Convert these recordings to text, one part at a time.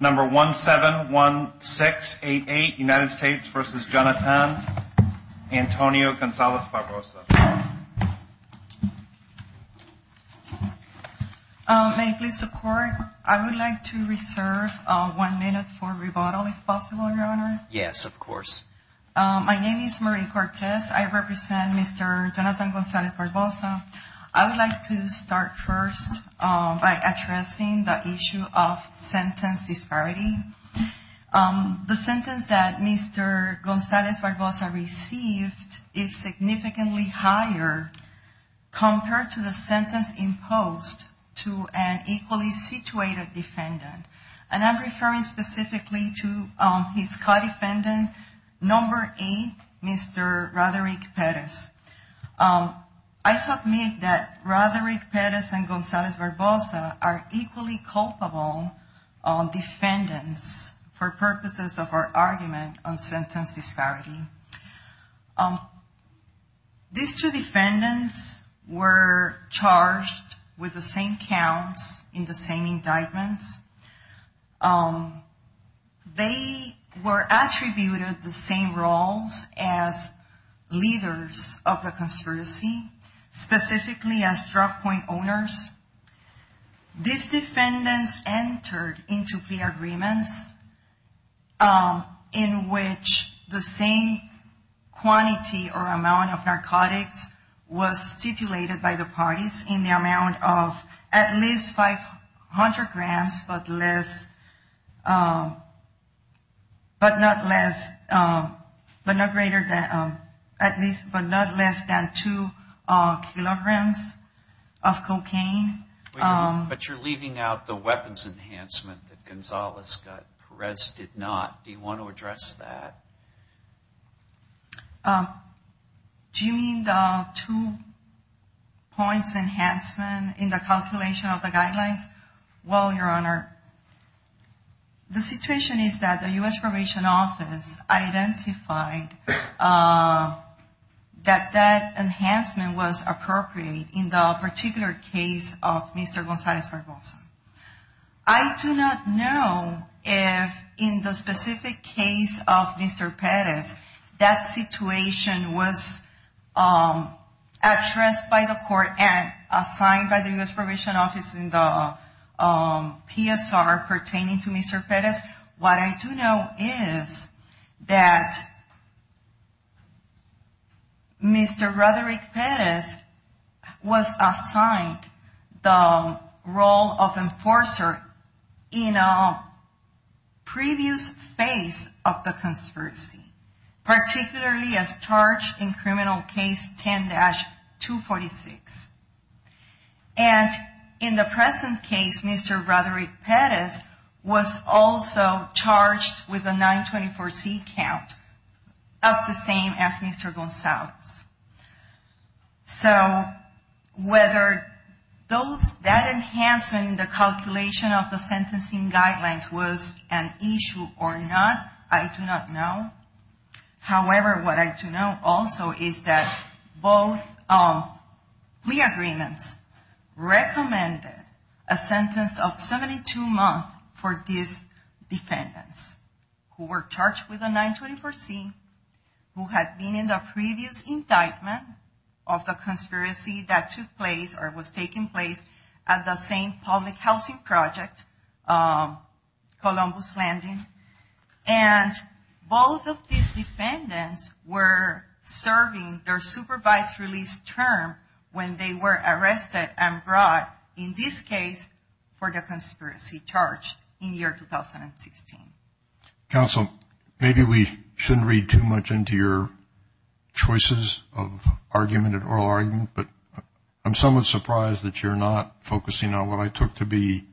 Number 171688 United States v. Jonathan Antonio Gonzalez-Barbosa May I please support? I would like to reserve one minute for rebuttal if possible, Your Honor. Yes, of course. My name is Marie Cortez. I represent Mr. Jonathan Gonzalez-Barbosa. I would like to start first by addressing the issue of sentence disparity. The sentence that Mr. Gonzalez-Barbosa received is significantly higher compared to the sentence imposed to an equally situated defendant. And I'm referring specifically to his co-defendant, Number 8, Mr. Roderick Perez. I submit that Roderick Perez and Gonzalez-Barbosa are equally culpable defendants for purposes of our argument on sentence disparity. These two defendants were charged with the same counts in the same indictments. They were attributed the same roles as leaders of the conspiracy, specifically as drug point owners. These defendants entered into plea agreements in which the same quantity or amount of narcotics was stipulated by the parties in the amount of at least 500 grams, but not less than 2 kilograms of cocaine. But you're leaving out the weapons enhancement that Gonzalez-Barbosa did not. Do you want to address that? Do you mean the two points enhancement in the calculation of the guidelines? Well, Your Honor, the situation is that the U.S. Probation Office identified that that enhancement was appropriate in the particular case of Mr. Gonzalez-Barbosa. I do not know if in the specific case of Mr. Perez, that situation was addressed by the court and assigned by the U.S. Probation Office in the PSR pertaining to Mr. Perez. What I do know is that Mr. Roderick Perez was assigned the role of enforcer in a previous phase of the conspiracy, particularly as charged in Criminal Case 10-246. And in the present case, Mr. Roderick Perez was also charged with a 924C count, as the same as Mr. Gonzalez. So whether that enhancement in the calculation of the sentencing guidelines was an issue or not, I do not know. However, what I do know also is that both plea agreements recommended a sentence of 72 months for these defendants who were charged with a 924C, who had been in the previous indictment of the conspiracy that took place or was taking place at the same public housing project, Columbus Landing. And both of these defendants were serving their supervised release term when they were arrested and brought, in this case, for the conspiracy charge in year 2016. Counsel, maybe we shouldn't read too much into your choices of argument and oral argument, but I'm somewhat surprised that you're not focusing on what I took to be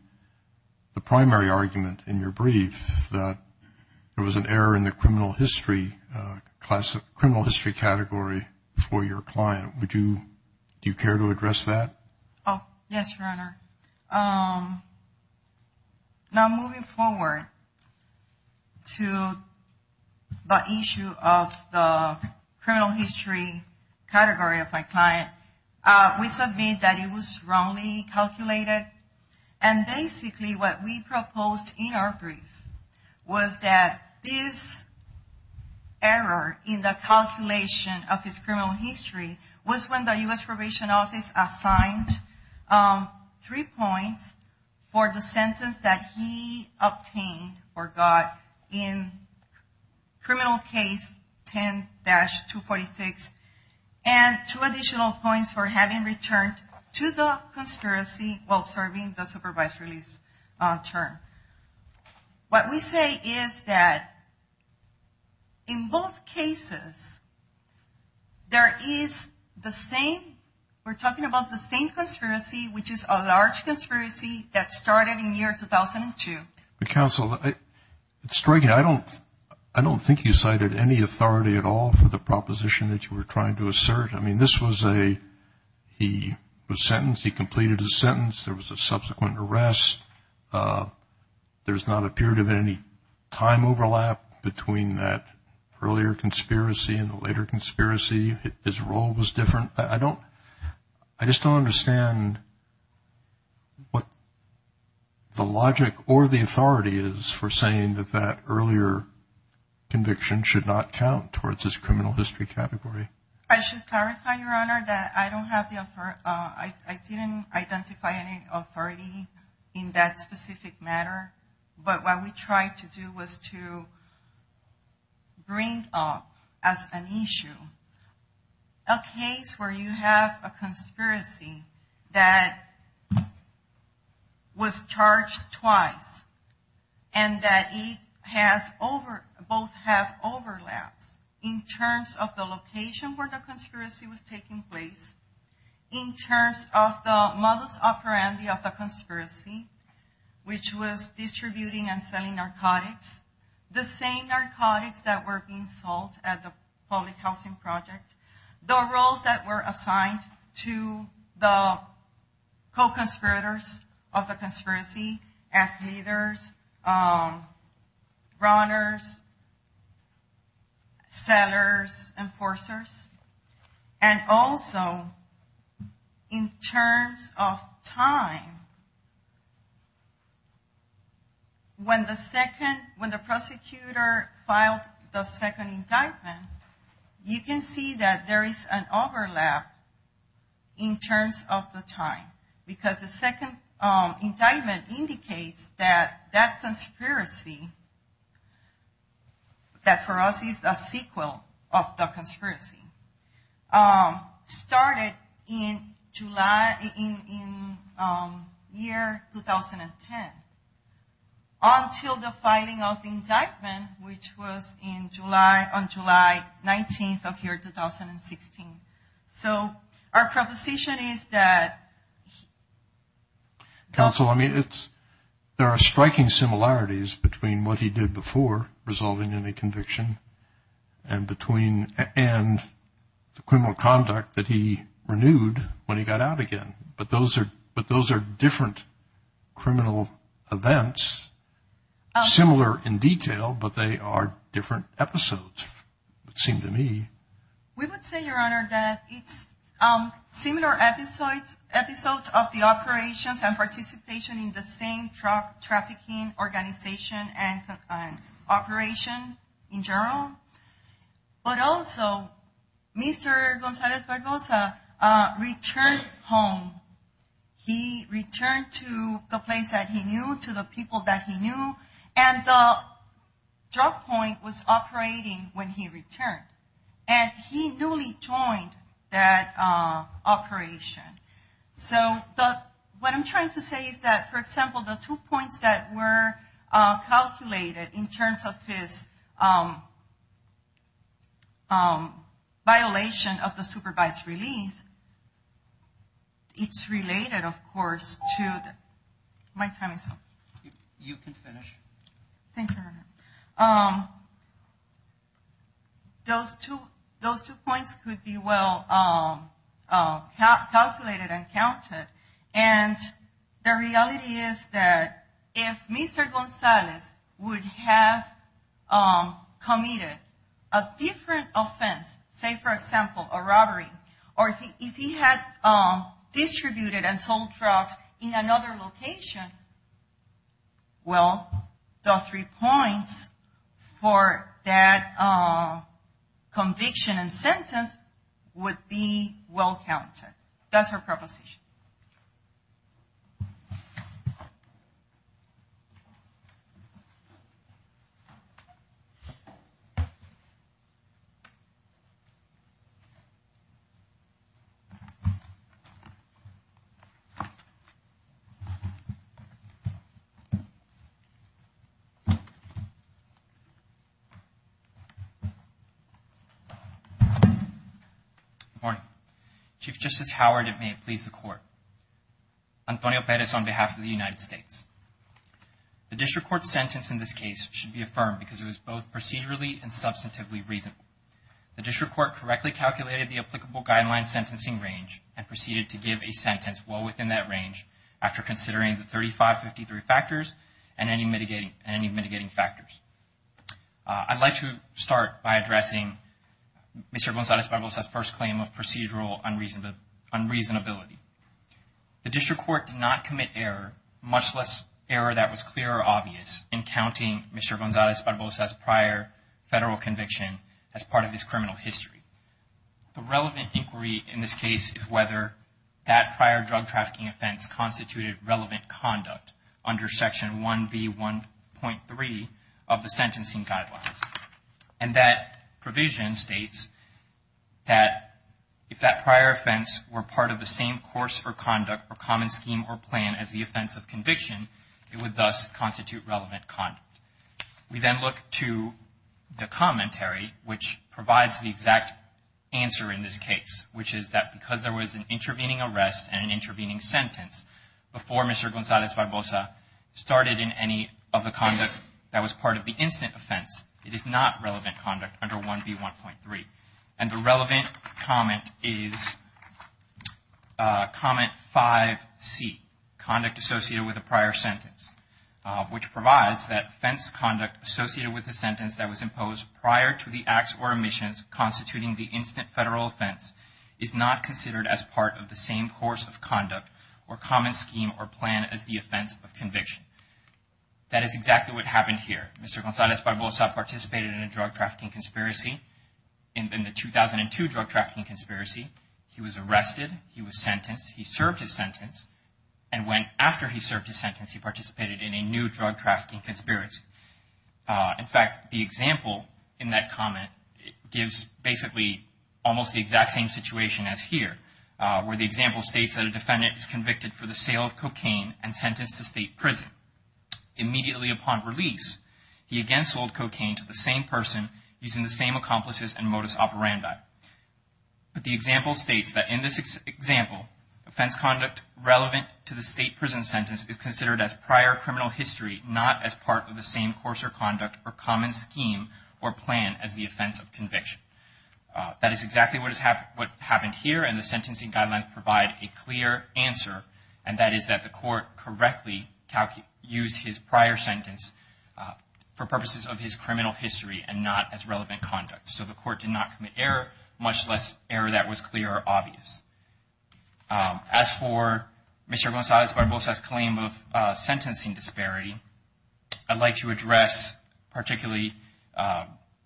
the primary argument in your brief, that there was an error in the criminal history category for your client. Would you, do you care to address that? Oh, yes, Your Honor. Now, moving forward to the issue of the criminal history category of my client, we submit that it was wrongly calculated. And basically what we proposed in our brief was that this error in the calculation of his criminal history was when the U.S. Probation Office assigned three points for the sentence that he obtained or got in criminal case 10-246, and two additional points for having returned to the conspiracy while serving the supervised release term. What we say is that in both cases, there is the same, we're talking about the same conspiracy, which is a large conspiracy that started in year 2002. Counsel, it's striking. I don't think you cited any authority at all for the proposition that you were trying to assert. I mean, this was a, he was sentenced. He completed his sentence. There was a subsequent arrest. There's not appeared to be any time overlap between that earlier conspiracy and the later conspiracy. His role was different. I just don't understand what the logic or the authority is for saying that that earlier conviction should not count towards his criminal history category. I should clarify, Your Honor, that I don't have the, I didn't identify any authority in that specific matter. But what we tried to do was to bring up as an issue a case where you have a conspiracy that was charged twice, and that it has over, both have overlaps in terms of the location where the conspiracy was taking place, in terms of the modus operandi of the conspiracy, which was distributing and selling narcotics, the same narcotics that were being sold at the public housing project, the roles that were assigned to the co-conspirators of the conspiracy, as leaders, runners, sellers, enforcers. And also, in terms of time, when the second, when the prosecutor filed the second indictment, you can see that there is an overlap in terms of the time. Because the second indictment indicates that that conspiracy, that for us is a sequel of the conspiracy, started in July, in year 2010, until the filing of the indictment, which was in July, on July 19th of year 2016. So our proposition is that... Counsel, I mean, there are striking similarities between what he did before, resolving any conviction, and the criminal conduct that he renewed when he got out again. But those are different criminal events, similar in detail, but they are different episodes, it seemed to me. We would say, Your Honor, that it's similar episodes of the operations and participation in the same drug trafficking organization and operation, in general. But also, Mr. González Barbosa returned home. He returned to the place that he knew, to the people that he knew, and the drug point was operating when he returned. And he newly joined that operation. So what I'm trying to say is that, for example, the two points that were calculated, in terms of his violation of the supervised release, it's related, of course, to... My time is up. You can finish. Thank you, Your Honor. And the reality is that if Mr. González would have committed a different offense, say, for example, a robbery, or if he had distributed and sold drugs in another location, well, the three points for that conviction and sentence would be well counted. That's my proposition. Thank you. Good morning. Chief Justice Howard, and may it please the Court. Antonio Perez on behalf of the United States. The district court's sentence in this case should be affirmed because it was both procedurally and substantively reasonable. The district court correctly calculated the applicable guideline sentencing range and proceeded to give a sentence well within that range after considering the 3553 factors and any mitigating factors. I'd like to start by addressing Mr. González Barbosa's first claim of procedural unreasonability. The district court did not commit error, much less error that was clear or obvious, in counting Mr. González Barbosa's prior federal conviction as part of his criminal history. The relevant inquiry in this case is whether that prior drug trafficking offense constituted relevant conduct under Section 1B.1.3 of the sentencing guidelines. And that provision states that if that prior offense were part of the same course or conduct or common scheme or plan as the offense of conviction, it would thus constitute relevant conduct. We then look to the commentary, which provides the exact answer in this case, which is that because there was an intervening arrest and an intervening sentence before Mr. González Barbosa started in any of the conduct that was part of the instant offense, it is not relevant conduct under 1B.1.3. And the relevant comment is comment 5C, conduct associated with a prior sentence, which provides that offense conduct associated with a sentence that was imposed prior to the acts or omissions constituting the instant federal offense is not considered as part of the same course of conduct or common scheme or plan as the offense of conviction. That is exactly what happened here. Mr. González Barbosa participated in a drug trafficking conspiracy. In the 2002 drug trafficking conspiracy, he was arrested, he was sentenced, he served his sentence, and when after he served his sentence, he participated in a new drug trafficking conspiracy. In fact, the example in that comment gives basically almost the exact same situation as here, where the example states that a defendant is convicted for the sale of cocaine and sentenced to state prison. Immediately upon release, he again sold cocaine to the same person using the same accomplices and modus operandi. But the example states that in this example, offense conduct relevant to the state prison sentence is considered as prior criminal history, not as part of the same course of conduct or common scheme or plan as the offense of conviction. That is exactly what happened here, and the sentencing guidelines provide a clear answer, and that is that the court correctly used his prior sentence for purposes of his criminal history and not as relevant conduct. So the court did not commit error, much less error that was clear or obvious. As for Mr. González Barbosa's claim of sentencing disparity, I'd like to address particularly –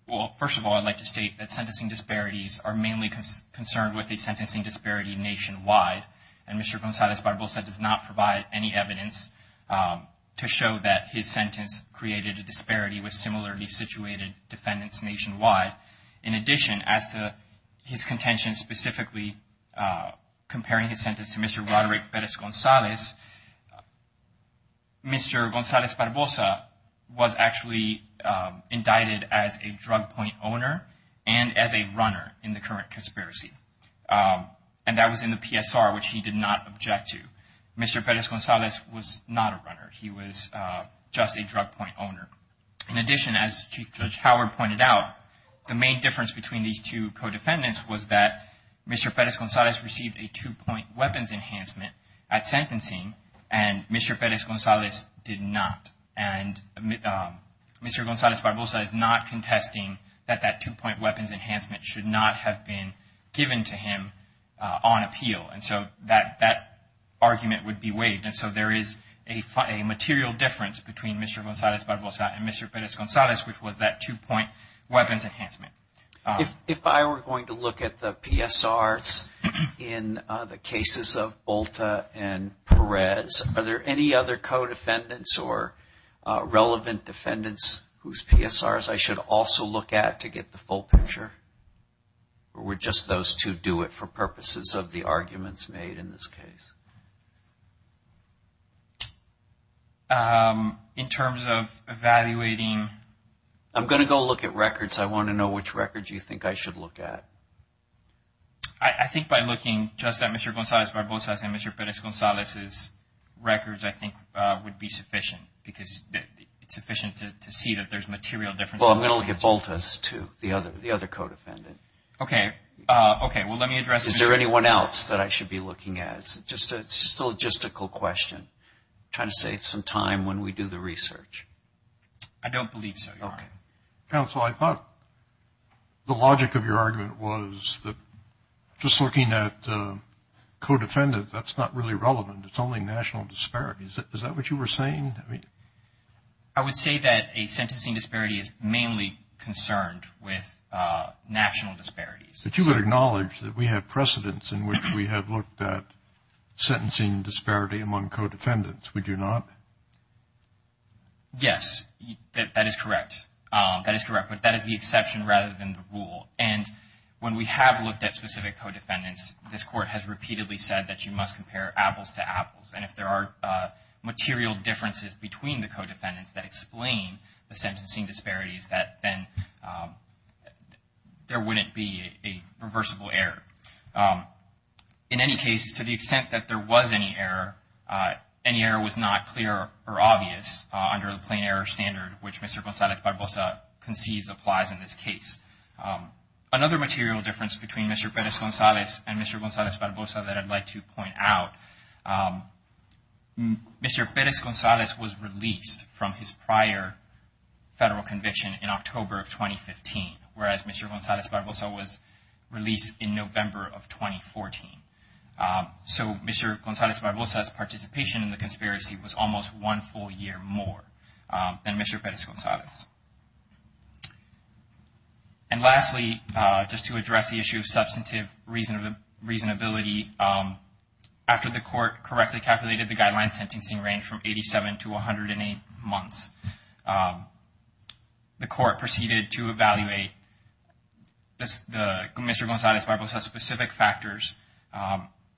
well, first of all, I'd like to state that sentencing disparities are mainly concerned with a sentencing disparity nationwide, and Mr. González Barbosa does not provide any evidence to show that his sentence created a disparity with similarly situated defendants nationwide. In addition, as to his contention specifically comparing his sentence to Mr. Roderick Perez-González, Mr. González Barbosa was actually indicted as a drug point owner and as a runner in the current conspiracy. And that was in the PSR, which he did not object to. Mr. Perez-González was not a runner. He was just a drug point owner. In addition, as Chief Judge Howard pointed out, the main difference between these two co-defendants was that Mr. Perez-González received a two-point weapons enhancement at sentencing, and Mr. Perez-González did not. And Mr. González Barbosa is not contesting that that two-point weapons enhancement should not have been given to him on appeal. And so that argument would be waived. And so there is a material difference between Mr. González Barbosa and Mr. Perez-González, which was that two-point weapons enhancement. If I were going to look at the PSRs in the cases of Bolta and Perez, are there any other co-defendants or relevant defendants whose PSRs I should also look at to get the full picture? Or would just those two do it for purposes of the arguments made in this case? In terms of evaluating... I'm going to go look at records. I want to know which records you think I should look at. I think by looking just at Mr. González Barbosa's and Mr. Perez-González's records, I think would be sufficient because it's sufficient to see that there's material difference. Well, I'm going to look at Bolta's too, the other co-defendant. Okay. Okay, well, let me address... Is there anyone else that I should be looking at? It's just a logistical question. I'm trying to save some time when we do the research. I don't believe so, Your Honor. Okay. Counsel, I thought the logic of your argument was that just looking at co-defendants, that's not really relevant. It's only national disparities. Is that what you were saying? I would say that a sentencing disparity is mainly concerned with national disparities. But you would acknowledge that we have precedents in which we have looked at sentencing disparity among co-defendants, would you not? Yes, that is correct. That is correct. But that is the exception rather than the rule. And when we have looked at specific co-defendants, this Court has repeatedly said that you must compare apples to apples. And if there are material differences between the co-defendants that explain the sentencing disparities, then there wouldn't be a reversible error. In any case, to the extent that there was any error, any error was not clear or obvious under the plain error standard, which Mr. González Barbosa concedes applies in this case. Another material difference between Mr. Pérez González and Mr. González Barbosa that I'd like to point out, Mr. Pérez González was released from his prior federal conviction in October of 2015, whereas Mr. González Barbosa was released in November of 2014. So Mr. González Barbosa's participation in the conspiracy was almost one full year more than Mr. Pérez González. And lastly, just to address the issue of substantive reasonability, after the Court correctly calculated the guideline sentencing range from 87 to 108 months, the Court proceeded to evaluate Mr. González Barbosa's specific factors,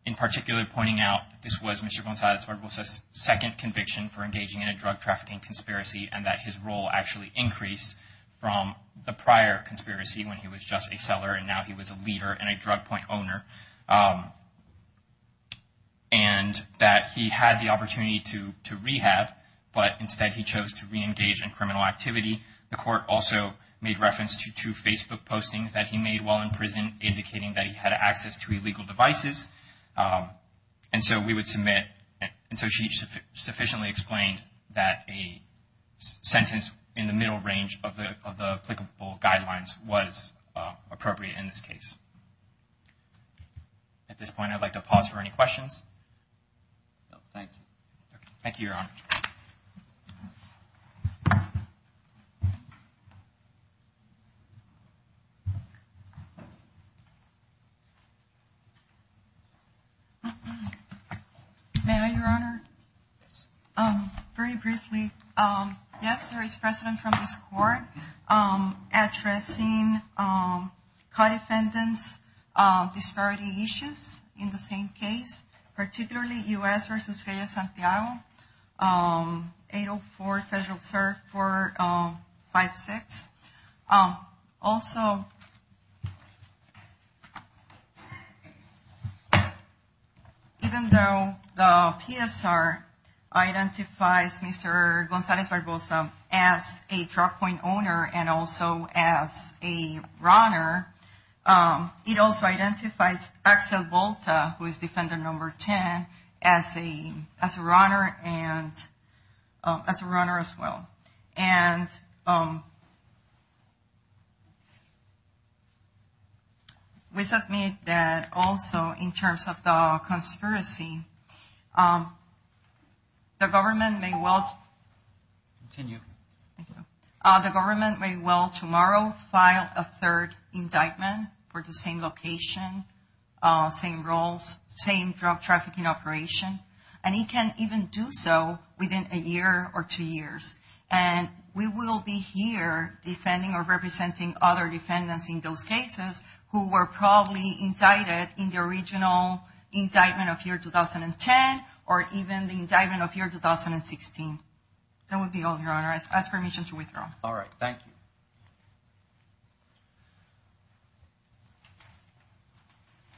in particular pointing out that this was Mr. González Barbosa's second conviction for engaging in a drug trafficking conspiracy and that his role actually increased from the prior conspiracy when he was just a seller and now he was a leader and a drug point owner, and that he had the opportunity to rehab, but instead he chose to reengage in criminal activity. The Court also made reference to two Facebook postings that he made while in prison, indicating that he had access to illegal devices. And so we would submit, and so she sufficiently explained that a sentence in the middle range of the applicable guidelines was appropriate in this case. At this point, I'd like to pause for any questions. Thank you. Thank you, Your Honor. May I, Your Honor? Yes. Very briefly, yes, there is precedent from this Court addressing co-defendants' disparity issues in the same case. Particularly U.S. v. Reyes-Santiago, 804 Federal Serve 456. Also, even though the PSR identifies Mr. González Barbosa as a drug point owner and also as a runner, it also identifies Axel Volta, who is Defender Number 10, as a runner as well. And we submit that also in terms of the conspiracy, the government may well... Continue. The government may well tomorrow file a third indictment for the same location, same roles, same drug trafficking operation. And it can even do so within a year or two years. And we will be here defending or representing other defendants in those cases who were probably indicted in the original indictment of year 2010 or even the indictment of year 2016. That would be all, Your Honor. I ask permission to withdraw. All right. Thank you.